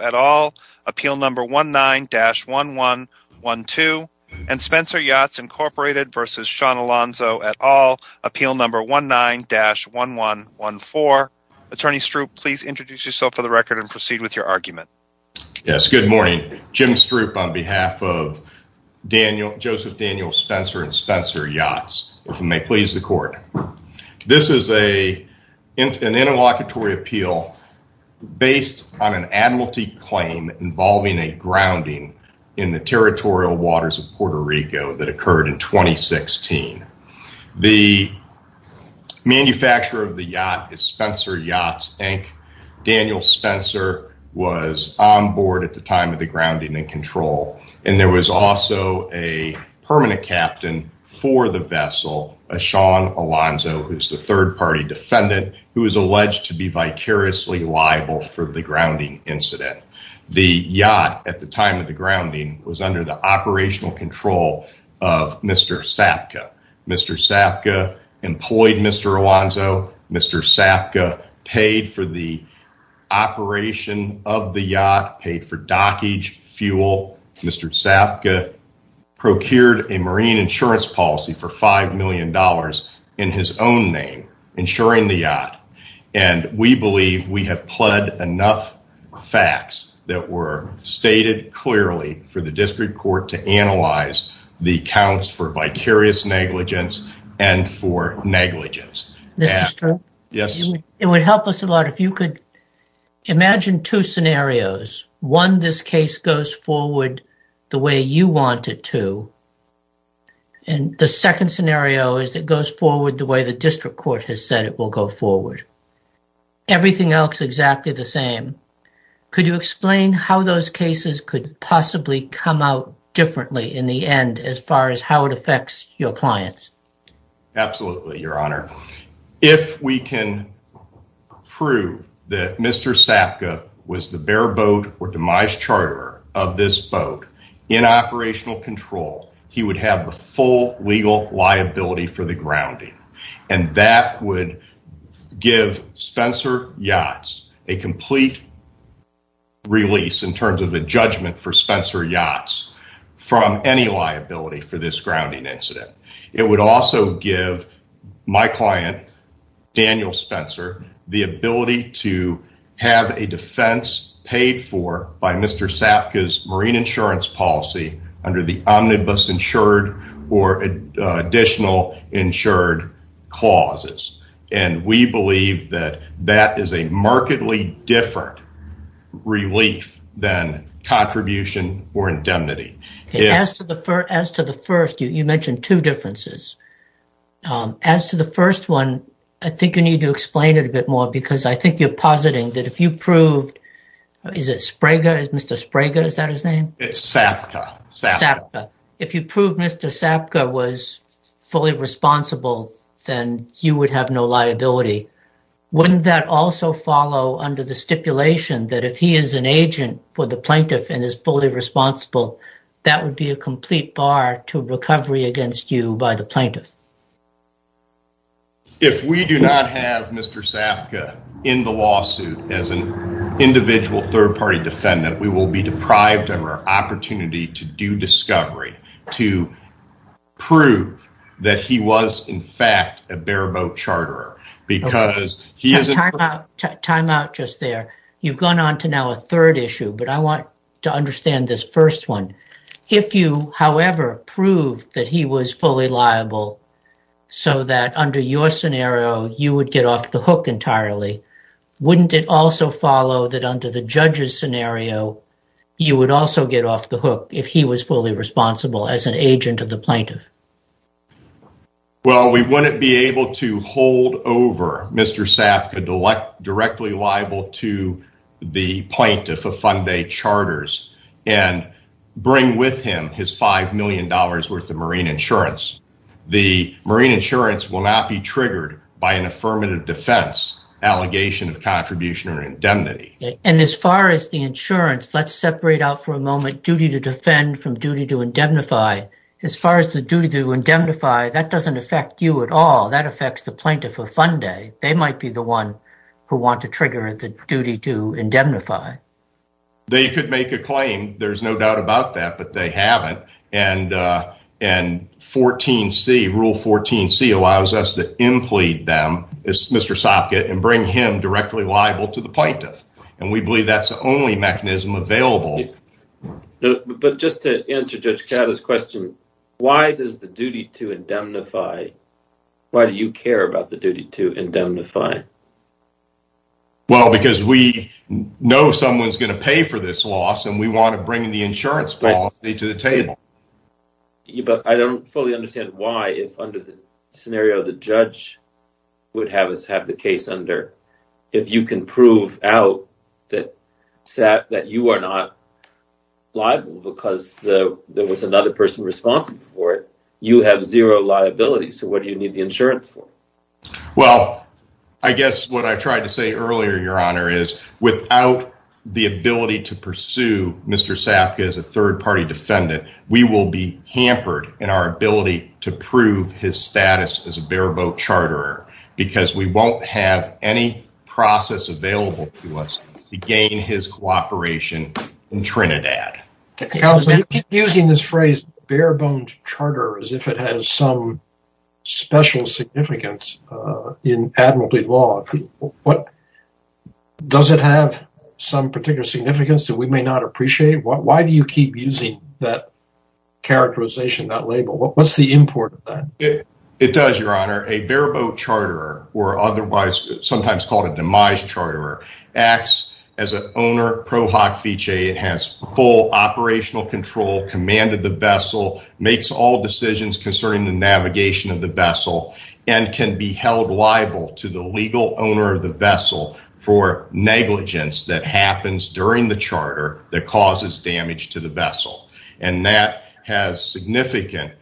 at all, appeal number 19-1112, and Spencer Yachts, Incorporated v. Sean Alonzo et al., appeal number 19-1114. Attorney Stroop, please introduce yourself for the record and proceed with your argument. Yes, good morning. Jim Stroop on behalf of Joseph Daniel Spencer and Spencer Yachts, if you may please the court. This is an interlocutory appeal based on an admiralty claim involving a grounding in the territorial waters of Puerto Rico that occurred in 2016. The manufacturer of the yacht is Spencer Yachts, Inc. Daniel Spencer was on board at the time of the grounding and control. And there was also a permanent captain for the vessel, a Sean Alonzo, who's the third party defendant, who was alleged to be vicariously liable for the grounding incident. The yacht at the time of the grounding was under the operational control of Mr. Sapka. Mr. Sapka employed Mr. Alonzo. Mr. Sapka paid for the operation of the yacht, paid for dockage, fuel. Mr. Sapka procured a marine insurance policy for $5 million in his own name, insuring the yacht. And we believe we have pled enough facts that were stated clearly for the district court to analyze the counts for vicarious negligence and for negligence. It would help us a lot if you could imagine two scenarios. One, this case goes forward the way you want it to. And the second scenario is it goes forward the way the district court has said it will go forward. Everything else exactly the same. Could you explain how those cases could possibly come out differently in the end as far as how it affects your clients? Absolutely, Your Honor. If we can prove that Mr. Sapka was the bare boat or demise charterer of this boat in operational control, he would have the full legal liability for the grounding. And that would give Spencer Yachts a complete release in terms of a judgment for Spencer Yachts from any liability for this grounding incident. It would also give my client, Daniel Spencer, the ability to have a defense paid for by Mr. Sapka's marine insurance policy under the omnibus insured or additional insured clauses. And we believe that that is a markedly different relief than contribution or indemnity. You mentioned two differences. As to the first one, I think you need to explain it a bit more because I think you're positing that if you proved Mr. Sapka was fully responsible, then you would have no liability. Wouldn't that also follow under the stipulation that if he is an agent for the plaintiff and is fully responsible, that would be a complete bar to recovery against you by the plaintiff? If we do not have Mr. Sapka in the lawsuit as an individual third-party defendant, we will be deprived of our opportunity to do discovery, to prove that he was, in fact, a bare-boat charterer. You've gone on to now a third issue, but I want to understand this first one. If you, however, proved that he was fully liable so that under your scenario, you would get off the hook entirely, wouldn't it also follow that under the judge's scenario, you would also get off the hook if he was fully responsible as an holdover, Mr. Sapka directly liable to the plaintiff of Funday Charters and bring with him his $5 million worth of marine insurance. The marine insurance will not be triggered by an affirmative defense allegation of contribution or indemnity. Let's separate out for a moment duty to defend from duty to indemnify. As far as the duty to plaintiff of Funday, they might be the one who want to trigger the duty to indemnify. They could make a claim, there's no doubt about that, but they haven't. Rule 14c allows us to implead them, Mr. Sapka, and bring him directly liable to the plaintiff. We believe that's the only mechanism available. No, but just to answer Judge Caddo's question, why does the duty to indemnify, why do you care about the duty to indemnify? Well, because we know someone's going to pay for this loss and we want to bring the insurance policy to the table. But I don't fully understand why if under the scenario the judge would have the case under, if you can prove out that you are not liable because there was another person responsible for it, you have zero liability, so what do you need the insurance for? Well, I guess what I tried to say earlier, Your Honor, is without the ability to pursue Mr. Sapka as a third party defendant, we will be hampered in our ability to prove his status as a bare bone charter. We won't have any process available to us to gain his cooperation in Trinidad. Counsel, you keep using this phrase, bare bone charter, as if it has some special significance in admiralty law. Does it have some particular significance that we may not appreciate? Why do you keep using that characterization, that label? What's the import of that? It does, Your Honor. A bare bone charter, or otherwise sometimes called a demise charter, acts as an owner pro hoc fiche. It has full operational control, commanded the vessel, makes all decisions concerning the navigation of the vessel, and can be held liable to the legal owner of the vessel for negligence that happens during the charter that causes damage to the vessel. And that has significant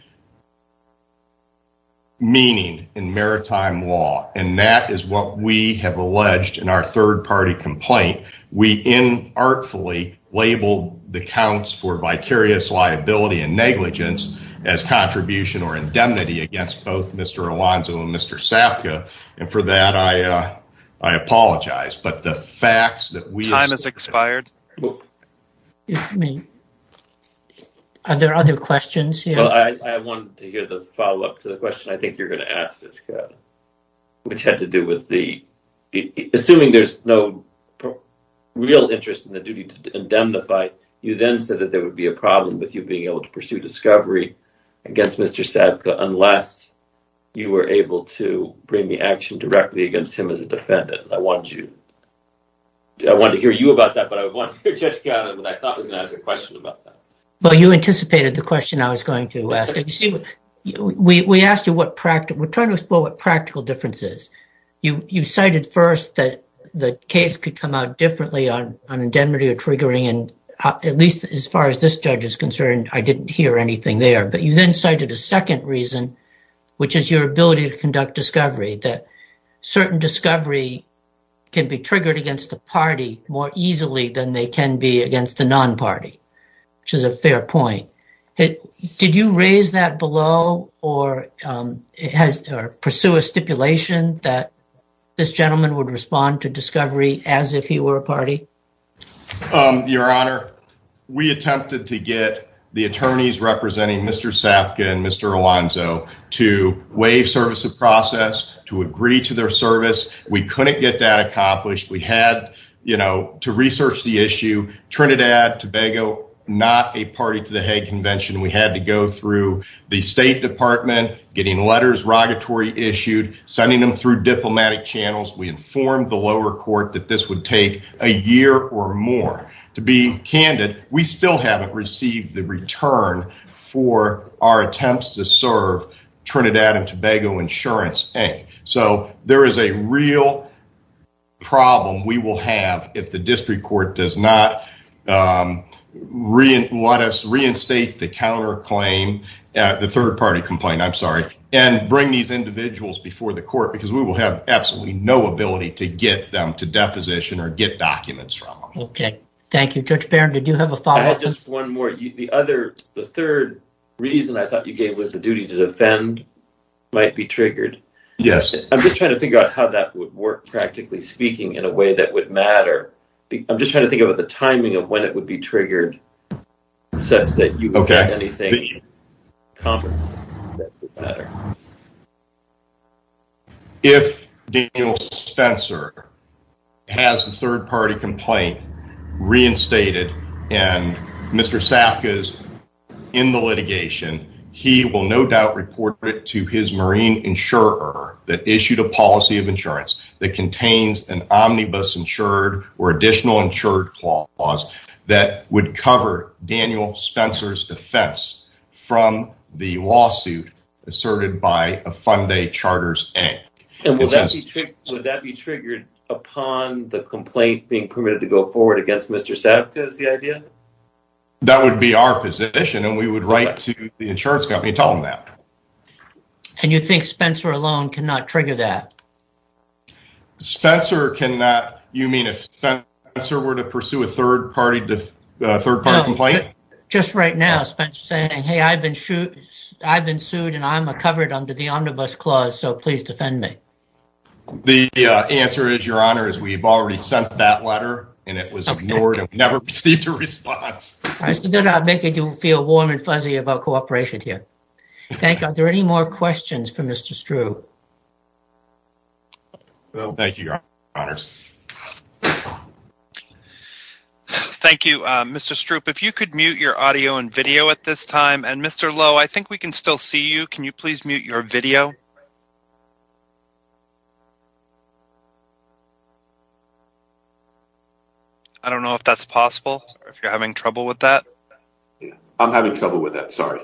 meaning in maritime law. And that is what we have alleged in our third party complaint. We inartfully labeled the counts for vicarious liability and negligence as contribution or indemnity against both Mr. Alonzo and Mr. Sapka. And for that, I apologize. But the fact that we... Time has expired. Are there other questions here? Well, I wanted to hear the follow-up to the question I think you're going to ask, which had to do with the... Assuming there's no real interest in the duty to indemnify, you then said that there would be a problem with you being able to pursue discovery against Mr. Sapka unless you were able to bring the action directly against him as a defendant. And I wanted to hear you about that, but I wanted to hear Judge Gallin when I thought I was going to ask a question about that. Well, you anticipated the question I was going to ask. We asked you what practical... We're trying to explore what practical difference is. You cited first that the case could come out differently on indemnity or triggering. And at least as far as this judge is concerned, I didn't hear anything there. But you then cited a second reason, which is your ability to conduct discovery, that certain discovery can be triggered against the party more easily than they can be against the non-party, which is a fair point. Did you raise that below or pursue a stipulation that this gentleman would respond to discovery as if he were a party? Your Honor, we attempted to get the attorneys representing Mr. Sapka and Mr. Alonzo to waive service of process, to agree to their service. We couldn't get that accomplished. We had to research the issue. Trinidad, Tobago, not a party to the Hague Convention. We had to go through the State Department, getting letters, rogatory issued, sending them through diplomatic channels. We informed the lower court that this would take a year or more. To be candid, we still haven't received the return for our attempts to serve Trinidad and Tobago Insurance, Inc. So, there is a real problem we will have if the district court does not let us reinstate the counterclaim, the third party complaint, I'm sorry, and bring these individuals before the court, because we will have absolutely no ability to get them to deposition or get documents from them. Okay. Thank you, Judge Barron. Did you have a follow-up? Just one more. The third reason I thought you gave was the duty to defend might be triggered. I'm just trying to figure out how that would work, practically speaking, in a way that would matter. I'm just trying to think about the timing of when it would be if Daniel Spencer has the third party complaint reinstated and Mr. Sapka is in the litigation, he will no doubt report it to his marine insurer that issued a policy of insurance that contains an omnibus insured or additional insured clause that would cover Daniel Spencer's defense from the lawsuit asserted by a Funday Charters Act. And would that be triggered upon the complaint being permitted to go forward against Mr. Sapka is the idea? That would be our position, and we would write to the insurance company telling them that. And you think Spencer alone cannot trigger that? Spencer cannot, you mean if Spencer were to pursue a third party complaint? Just right now, Spencer's saying, hey, I've been sued and I'm covered under the omnibus clause, so please defend me. The answer is, your honor, is we've already sent that letter and it was ignored and we never received a response. I said they're not making you feel warm and fuzzy about cooperation here. Thank you. Are there any more questions for Mr. Stroop? Thank you, your honors. Thank you, Mr. Stroop. If you could mute your audio and video at this time, and Mr. Lowe, I think we can still see you. Can you please mute your video? I don't know if that's possible, or if you're having trouble with that. I'm having trouble with that, sorry.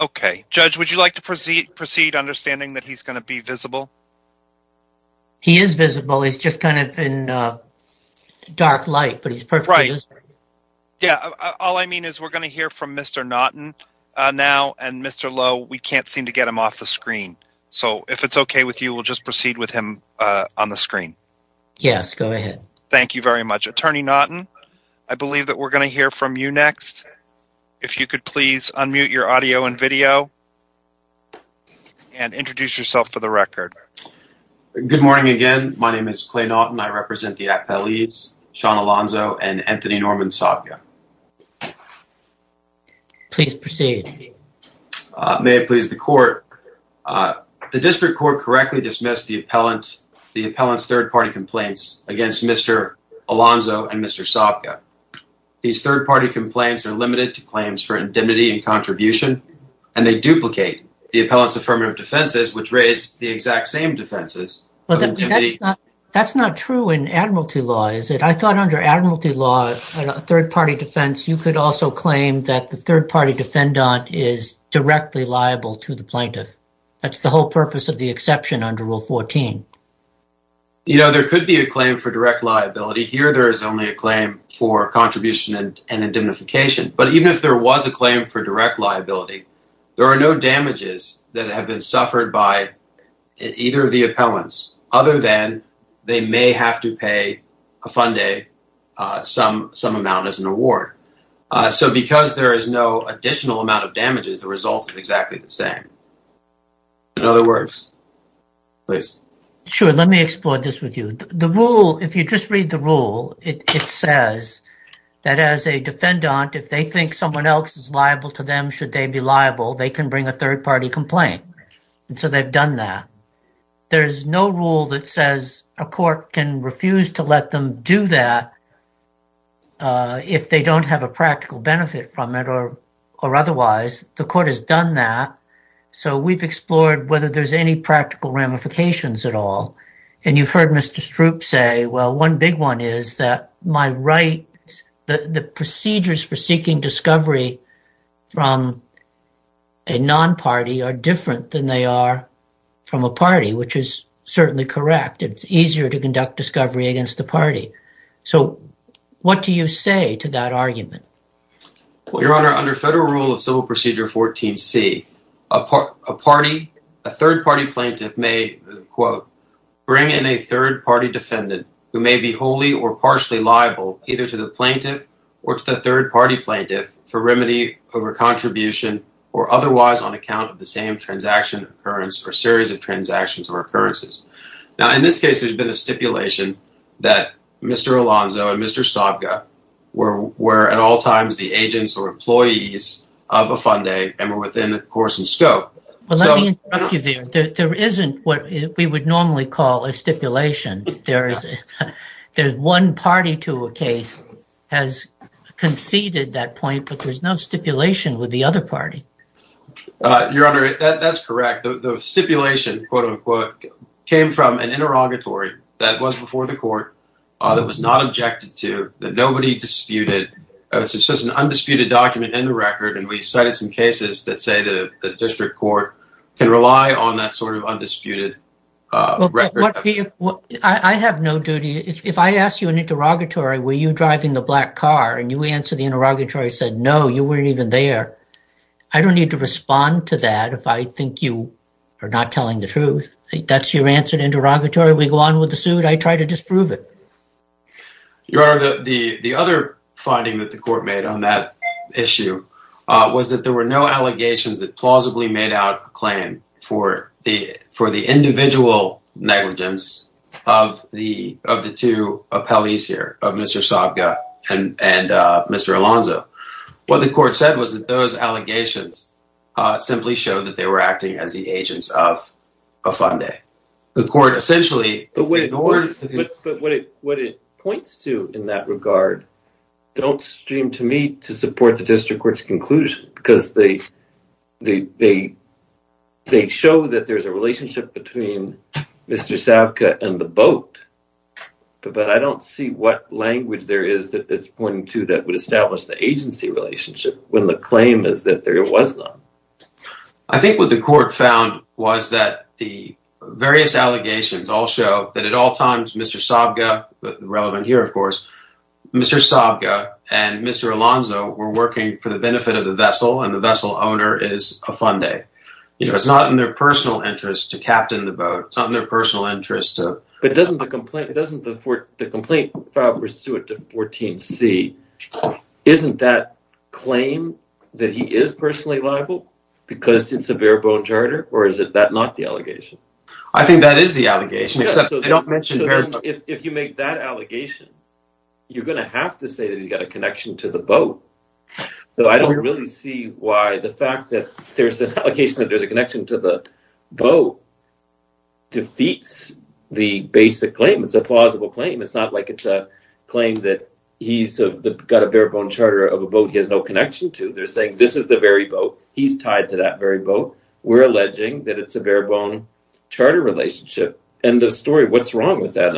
Okay. Judge, would you like to proceed understanding that he's going to be visible? In dark light, but he's perfect. Yeah, all I mean is we're going to hear from Mr. Naughton now, and Mr. Lowe, we can't seem to get him off the screen. So if it's okay with you, we'll just proceed with him on the screen. Yes, go ahead. Thank you very much. Attorney Naughton, I believe that we're going to hear from you next. If you could please unmute your audio and video and introduce yourself for the record. Good morning again. My name is Clay Naughton. I represent the appellees, Sean Alonzo and Anthony Norman Sabka. Please proceed. May it please the court. The district court correctly dismissed the appellant's third-party complaints against Mr. Alonzo and Mr. Sabka. These third-party complaints are limited to claims for indemnity and contribution, and they duplicate the appellant's affirmative defenses, which raise the exact same defenses. That's not true in admiralty law, is it? I thought under admiralty law, a third-party defense, you could also claim that the third-party defendant is directly liable to the plaintiff. That's the whole purpose of the exception under Rule 14. You know, there could be a claim for direct liability. Here, there is only a claim for contribution and indemnification. But even if there was a claim for direct liability, there are no damages that have been suffered by either of the appellants, other than they may have to pay a fundee some amount as an award. So because there is no additional amount of damages, the result is exactly the same. In other words, please. Sure. Let me explore this with you. The rule, if you just read the rule, it says that as a can bring a third-party complaint. So they've done that. There is no rule that says a court can refuse to let them do that if they don't have a practical benefit from it or otherwise. The court has done that. So we've explored whether there's any practical ramifications at all. And you've heard Mr. Stroop say, well, one big one is that my right, the procedures for seeking discovery from a non-party are different than they are from a party, which is certainly correct. It's easier to conduct discovery against the party. So what do you say to that argument? Your Honor, under Federal Rule of Civil Procedure 14C, a party, a third-party plaintiff may, quote, bring in a third-party defendant who may be wholly or partially liable either to the plaintiff or to the third-party plaintiff for remedy over contribution or otherwise on account of the same transaction occurrence or series of transactions or occurrences. Now, in this case, there's been a stipulation that Mr. Alonzo and Mr. Sobka were at all times the agents or employees of a Funday and were within the course and scope. Well, let me interrupt you there. There isn't what we would normally call a stipulation. There is one party to a case has conceded that point, but there's no stipulation with the other party. Your Honor, that's correct. The stipulation, quote, unquote, came from an interrogatory that was before the court that was not objected to, that nobody disputed. It's just an undisputed document in the record. And we've cited some records. I have no duty. If I ask you an interrogatory, were you driving the black car and you answer the interrogatory said, no, you weren't even there. I don't need to respond to that if I think you are not telling the truth. That's your answer to interrogatory. We go on with the suit. I try to disprove it. Your Honor, the other finding that the court made on that issue was that there were no allegations that plausibly made out a claim for the individual negligence of the two appellees here, of Mr. Sabga and Mr. Alonzo. What the court said was that those allegations simply showed that they were acting as the agents of a Funday. The court essentially ignored... But what it points to in that regard don't seem to me to support the district court's conclusion because they show that there's a relationship between Mr. Sabga and the boat. But I don't see what language there is that it's pointing to that would establish the agency relationship when the claim is that there was none. I think what the court found was that the various allegations all show that at all times Mr. Sabga, relevant here of course, Mr. Sabga and Mr. Alonzo were working for the benefit of the vessel and the vessel owner is a Funday. You know, it's not in their personal interest to captain the boat. It's not in their personal interest to... But doesn't the complaint, it doesn't the four, the complaint to 14c, isn't that claim that he is personally liable because it's a bare-bone charter or is it that not the allegation? I think that is the allegation except they don't mention... If you make that allegation you're going to have to say that he's got a connection to the boat. So I don't really see why the fact that there's an allegation that there's a connection to the boat defeats the basic claim. It's a plausible claim. It's not like it's a claim that he's got a bare-bone charter of a boat he has no connection to. They're saying this is the very boat. He's tied to that very boat. We're alleging that it's a bare-bone charter relationship. End of story. What's wrong with that?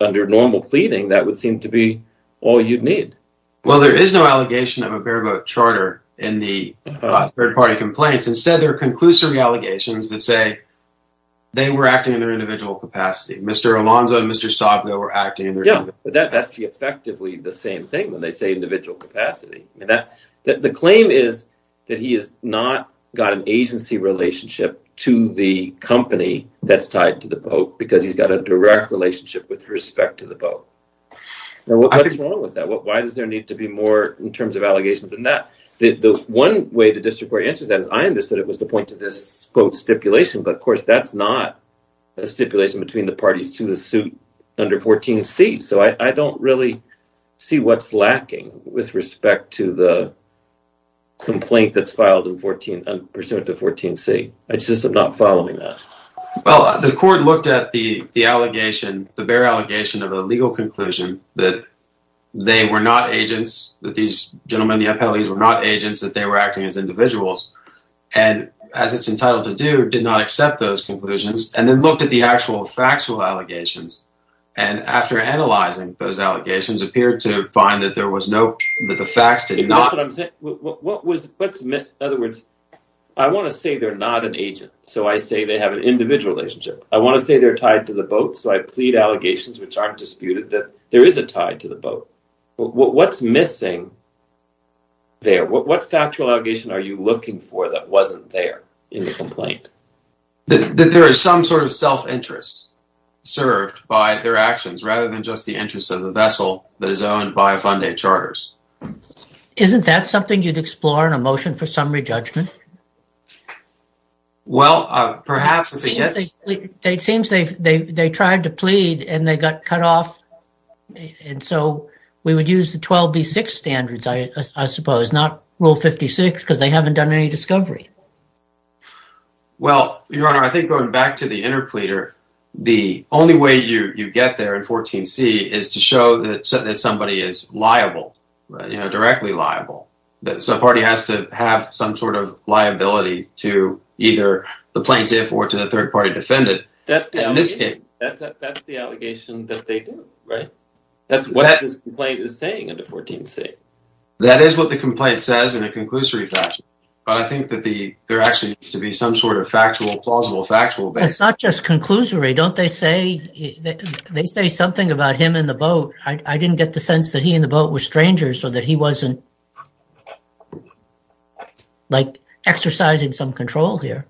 Under normal pleading that would seem to be all you'd need. Well there is no allegation of a bare-bone charter in the third party complaints. Instead there are conclusory allegations that say they were acting in their individual capacity. Mr. Alonzo and Mr. Sogno were acting in their individual capacity. Yeah, but that's effectively the same thing when they say individual capacity. The claim is that he has not got an agency relationship to the company that's tied to the boat because he's got a direct relationship with respect to the boat. Now what's wrong with that? Why does there need to be more in terms of allegations than that? The one way the district court answers that is I understood it was the point to this boat stipulation but of course that's not a stipulation between the parties to the suit under 14c. So I don't really see what's lacking with respect to the complaint that's filed in 14 and pursuant to 14c. I just am not following that. Well the court looked at the the allegation the bare allegation of a legal conclusion that they were not agents that these gentlemen were not agents that they were acting as individuals and as it's entitled to do did not accept those conclusions and then looked at the actual factual allegations and after analyzing those allegations appeared to find that there was no that the facts did not. What was what's in other words I want to say they're not an agent so I say they have an individual relationship. I want to say they're tied to the boat so I plead allegations which are disputed that there is a tie to the boat. What's missing there? What factual allegation are you looking for that wasn't there in the complaint? That there is some sort of self interest served by their actions rather than just the interest of the vessel that is owned by Funday charters. Isn't that something you'd explore in a motion for summary judgment? Well perhaps it seems they they tried to plead and they got cut off and so we would use the 12b6 standards I suppose not rule 56 because they haven't done any discovery. Well your honor I think going back to the interpleader the only way you you get there in 14c is to show that somebody is liable you know directly liable. So a party has to have some sort of liability to either the plaintiff or to the third party defendant. That's the allegation that they do right? That's what this complaint is saying under 14c. That is what the complaint says in a conclusory fashion but I think that the there actually needs to be some sort of factual plausible factual basis. It's not just conclusory don't they say they say something about him in the boat. I didn't get the sense that he in the boat was strangers so that he wasn't like exercising some control here.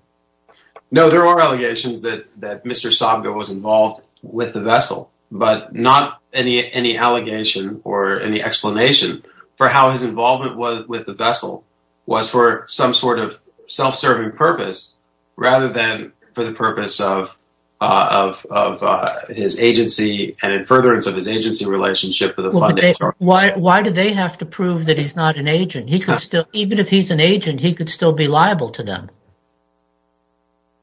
No there are allegations that that Mr. Sabga was involved with the vessel but not any any allegation or any explanation for how his involvement was with the vessel was for some sort of self-serving purpose rather than for the purpose of of of his agency and in furtherance of his agency relationship with why why do they have to prove that he's not an agent he could still even if he's an agent he could still be liable to them.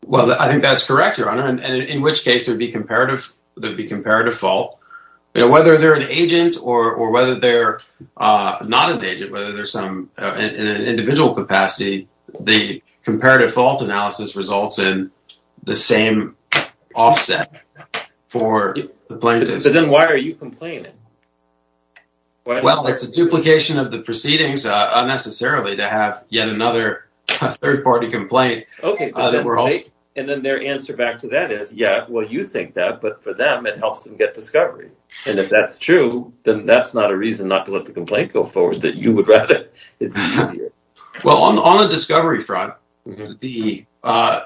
Well I think that's correct your honor and in which case there'd be comparative there'd be comparative fault you know whether they're an agent or or whether they're uh not an agent whether there's some in an individual capacity the comparative fault analysis results in the same offset for the plaintiffs. But then why are you complaining? Well it's a duplication of the proceedings unnecessarily to have yet another third-party complaint. Okay and then their answer back to that is yeah well you think that but for them it helps them get discovery and if that's true then that's not a reason not to let the complaint go forward that you would rather it be easier. Well on the discovery front the uh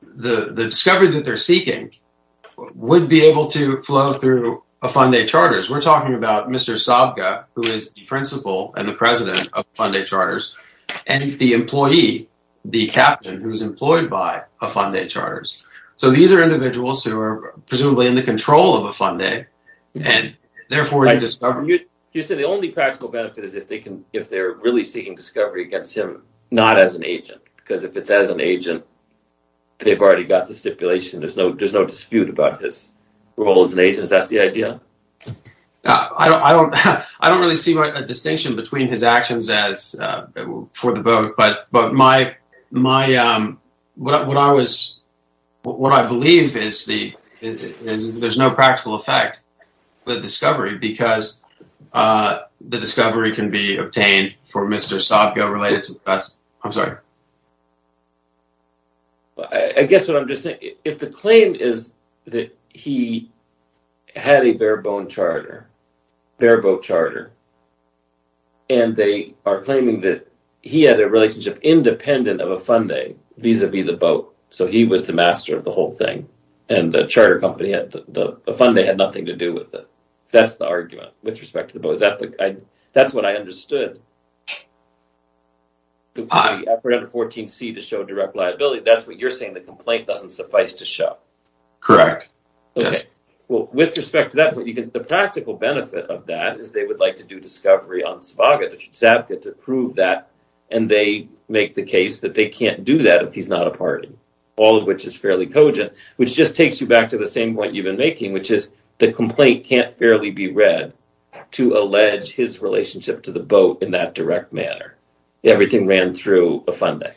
the the discovery that they're seeking would be able to flow through a funday charters we're talking about Mr. Sabga who is the principal and the president of funday charters and the employee the captain who's employed by a funday charters so these are individuals who are presumably in the control of if they're really seeking discovery against him not as an agent because if it's as an agent they've already got the stipulation there's no there's no dispute about his role as an agent is that the idea? I don't I don't I don't really see a distinction between his actions as uh for the vote but but my my um what I was what I believe is the is there's no practical effect the discovery because uh the discovery can be obtained for Mr. Sabga related to that I'm sorry I guess what I'm just saying if the claim is that he had a bare bone charter bare boat charter and they are claiming that he had a relationship independent of a funday vis-a-vis the boat so he was the master of the whole thing and the charter company had the funday had nothing to do with it that's the argument with respect to the boat is that the I that's what I understood the effort under 14c to show direct liability that's what you're saying the complaint doesn't suffice to show. Correct. Okay well with respect to that what you can the practical benefit of that is they would like to do discovery on Sabga to Sabga to prove that and they make the case that they can't do that if he's not a party all of which is fairly cogent which just takes you back to the same point you've been making which is the complaint can't fairly be read to allege his relationship to the boat in that direct manner everything ran through a funday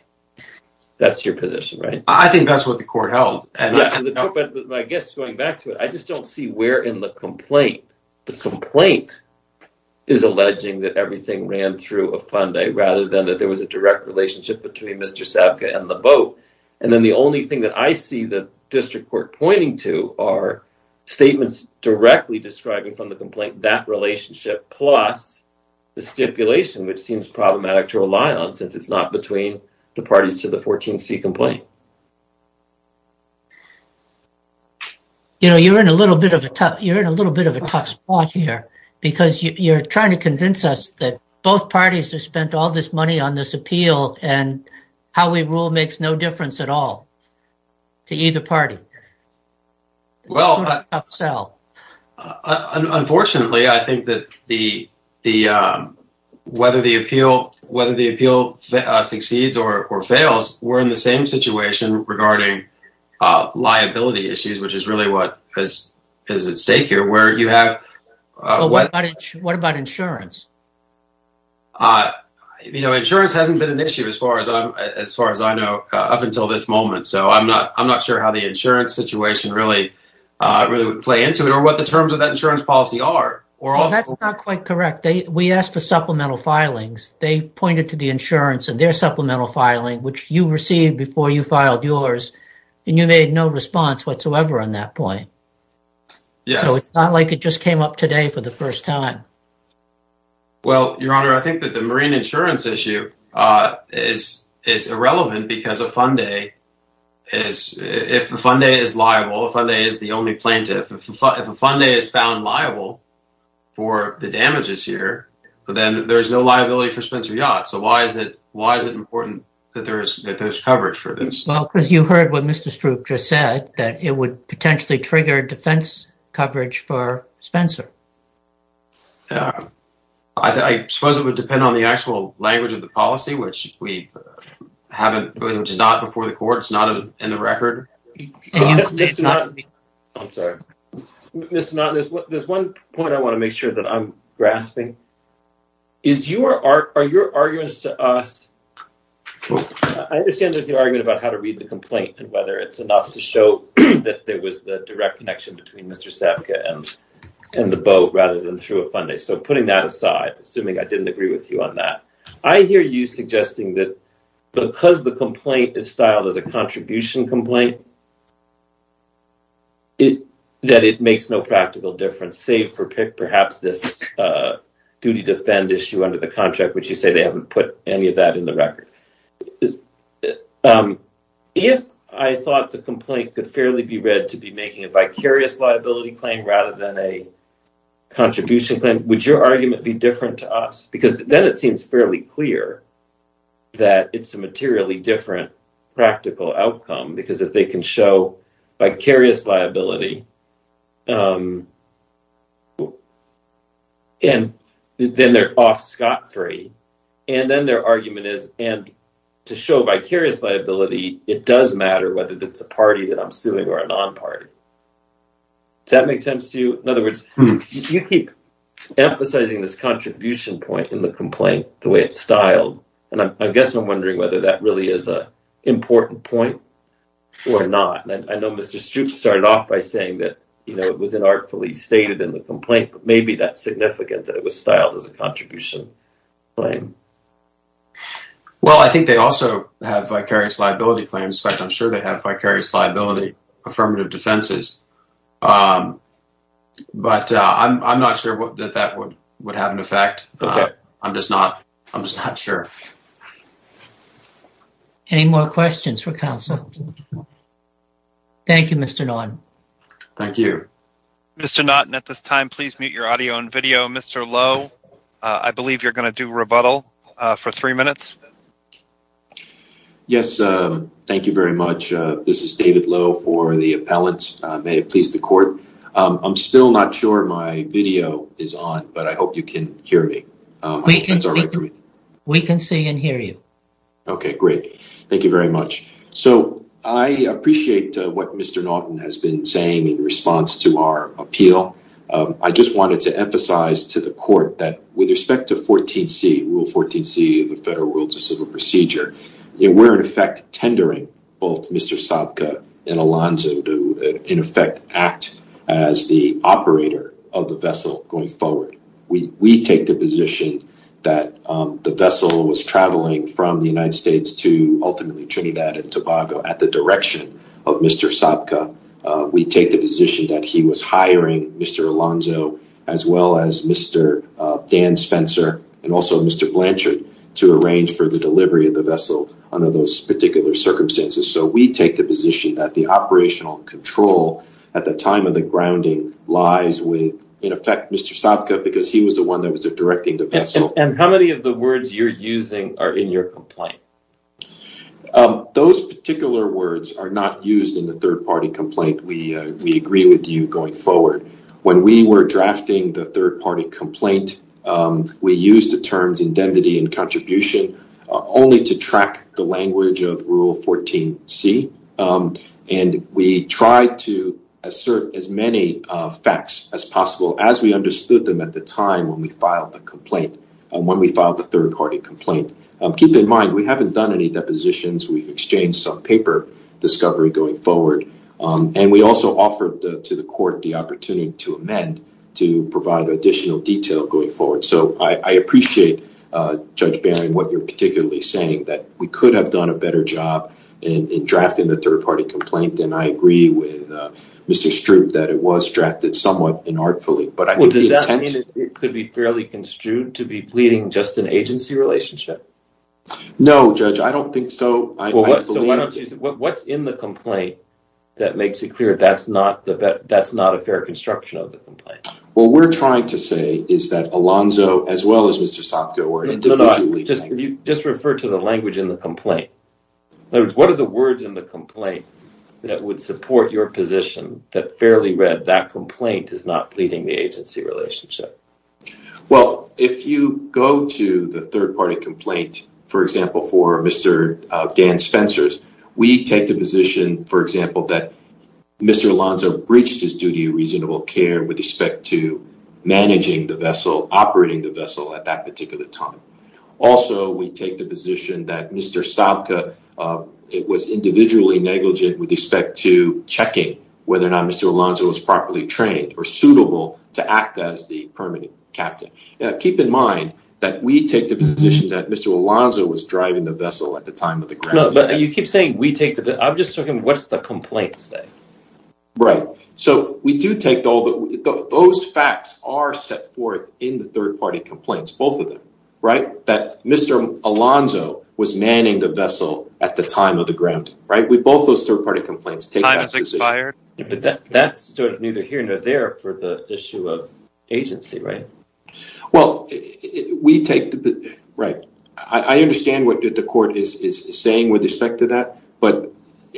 that's your position right? I think that's what the court held and no but I guess going back to it I just don't see where in the complaint the complaint is alleging that everything ran through a funday rather than that there was a direct relationship between Mr. Sabga and the boat and then the only thing that I see the district court pointing to are statements directly describing from the complaint that relationship plus the stipulation which seems problematic to rely on since it's not between the parties to the 14c complaint. You know you're in a little bit of a tough you're in a little bit of a tough spot here because you're trying to convince us that both parties have spent all this money on this appeal and how we rule makes no difference at all to either party. Unfortunately I think that whether the appeal succeeds or fails we're in the same situation regarding liability issues which is really what is at stake here. What about insurance? You know insurance hasn't been an issue as far as I'm as far as I know up until this moment so I'm not I'm not sure how the insurance situation really really would play into it or what the terms of that insurance policy are. Well that's not quite correct they we asked for supplemental filings they pointed to the insurance and their supplemental filing which you received before you filed yours and you made no response whatsoever on that point. So it's not like it just came up for the first time. Well your honor I think that the marine insurance issue is irrelevant because a funday is if a funday is liable a funday is the only plaintiff if a funday is found liable for the damages here but then there's no liability for Spencer Yachts so why is it why is it important that there is coverage for this? Well because you heard what Mr. Stroop just said that it would potentially trigger defense coverage for Spencer. Yeah I suppose it would depend on the actual language of the policy which we haven't which is not before the court it's not in the record. I'm sorry Mr. Knott there's one point I want to make sure that I'm grasping is you are are your arguments to us I understand there's the argument about how to read the that there was the direct connection between Mr. Sapka and and the boat rather than through a funday so putting that aside assuming I didn't agree with you on that I hear you suggesting that because the complaint is styled as a contribution complaint it that it makes no practical difference save for pick perhaps this uh duty to fend issue under the contract which you say they haven't put any of that in the record if I thought the complaint could fairly be read to be making a vicarious liability claim rather than a contribution claim would your argument be different to us because then it seems fairly clear that it's a materially different practical outcome because if they can show vicarious liability um and then they're off scot-free and then their argument is and to show vicarious liability it does matter whether it's a party that I'm suing or a non-party does that make sense to you in other words you keep emphasizing this contribution point in the complaint the way it's styled and I guess I'm wondering whether that really is a important point or not and I know Mr. started off by saying that you know it was an artfully stated in the complaint but maybe that's significant that it was styled as a contribution claim well I think they also have vicarious liability claims in fact I'm sure they have vicarious liability affirmative defenses um but uh I'm I'm not sure what that that would would have an effect I'm just not I'm just not sure any more questions for counsel thank you Mr. Norton thank you Mr. Norton at this time please mute your audio and video Mr. Lowe I believe you're going to do rebuttal for three minutes yes um thank you very much uh this is David Lowe for the appellants may it please the court um I'm still not sure my video is on but I hope you can hear me we can we can see and hear you okay great thank you very much so I appreciate what Mr. Norton has been saying in response to our appeal I just wanted to emphasize to the court that with respect to 14c rule 14c of the federal rules of civil procedure and we're in effect tendering both Mr. Sabka and Alonzo to in effect act as the operator of the vessel going forward we we take the position that the vessel was traveling from the United States to ultimately Trinidad and Tobago at the direction of Mr. Sabka we take the position that he was hiring Mr. Alonzo as well as Mr. Dan Spencer and also Mr. Blanchard to arrange for the delivery of the vessel under those particular circumstances so we take the position that the operational control at the time of the grounding lies with in effect Mr. Sabka because he was the one that was directing the vessel and how many of the words you're using are in your complaint those particular words are not used in the third party complaint we we agree with you going forward when we were drafting the third party complaint we use the terms indemnity and contribution only to track the language of rule 14c and we tried to assert as many facts as possible as we understood them at the time when we filed the complaint and when we filed the third party complaint keep in mind we haven't done any depositions we've exchanged some paper discovery going forward and we also offered to the court the opportunity to amend to provide additional detail going forward so I appreciate Judge Barron what you're particularly saying that we could have done a better job in drafting the third party complaint and I agree with Mr. Stroop that it was drafted somewhat inartfully but I mean it could be fairly construed to be pleading just an agency relationship no judge I don't think so what's in the complaint that makes it clear that's not the that's not a fair construction what we're trying to say is that Alonzo as well as Mr. Sopko just refer to the language in the complaint what are the words in the complaint that would support your position that fairly read that complaint is not pleading the agency relationship well if you go to the third party complaint for example for Mr. Dan Spencer's we take the position for example that Mr. Alonzo breached his duty reasonable care with respect to managing the vessel operating the vessel at that particular time also we take the position that Mr. Sopko it was individually negligent with respect to checking whether or not Mr. Alonzo was properly trained or suitable to act as the permanent captain now keep in mind that we take the position that Mr. Alonzo was driving the vessel at the time of the ground but you keep saying we take the I'm just talking what's the complaint say right so we do take all those facts are set forth in the third party complaints both of them right that Mr. Alonzo was manning the vessel at the time of the ground right we both those third party complaints time has expired but that that's sort of neither here nor there for the issue of agency right well we take the right I understand what the court is is saying with respect to that but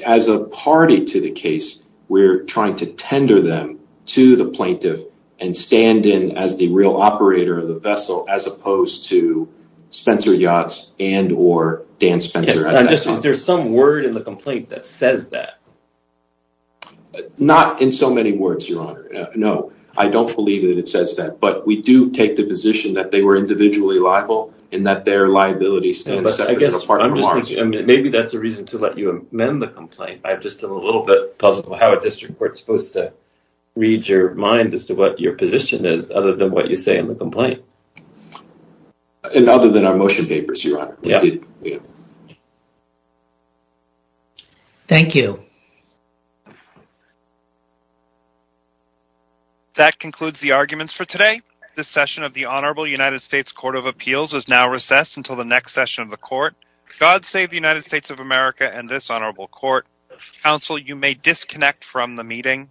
as a party to the case we're trying to tender them to the plaintiff and stand in as the real operator of the vessel as opposed to Spencer Yachts and or Dan Spencer is there some word in the complaint that says that not in so many words your honor no I don't believe that it says that but we do take the position that they were individually liable and that their liability but I guess maybe that's a reason to let you amend the complaint I've just a little bit puzzled how a district court's supposed to read your mind as to what your position is other than what you say in the complaint and other than our motion papers your honor yeah thank you that concludes the arguments for today this session of the honorable united states court of appeals is now recessed until the next session of the court god save the united states of america and this honorable court counsel you may disconnect from the meeting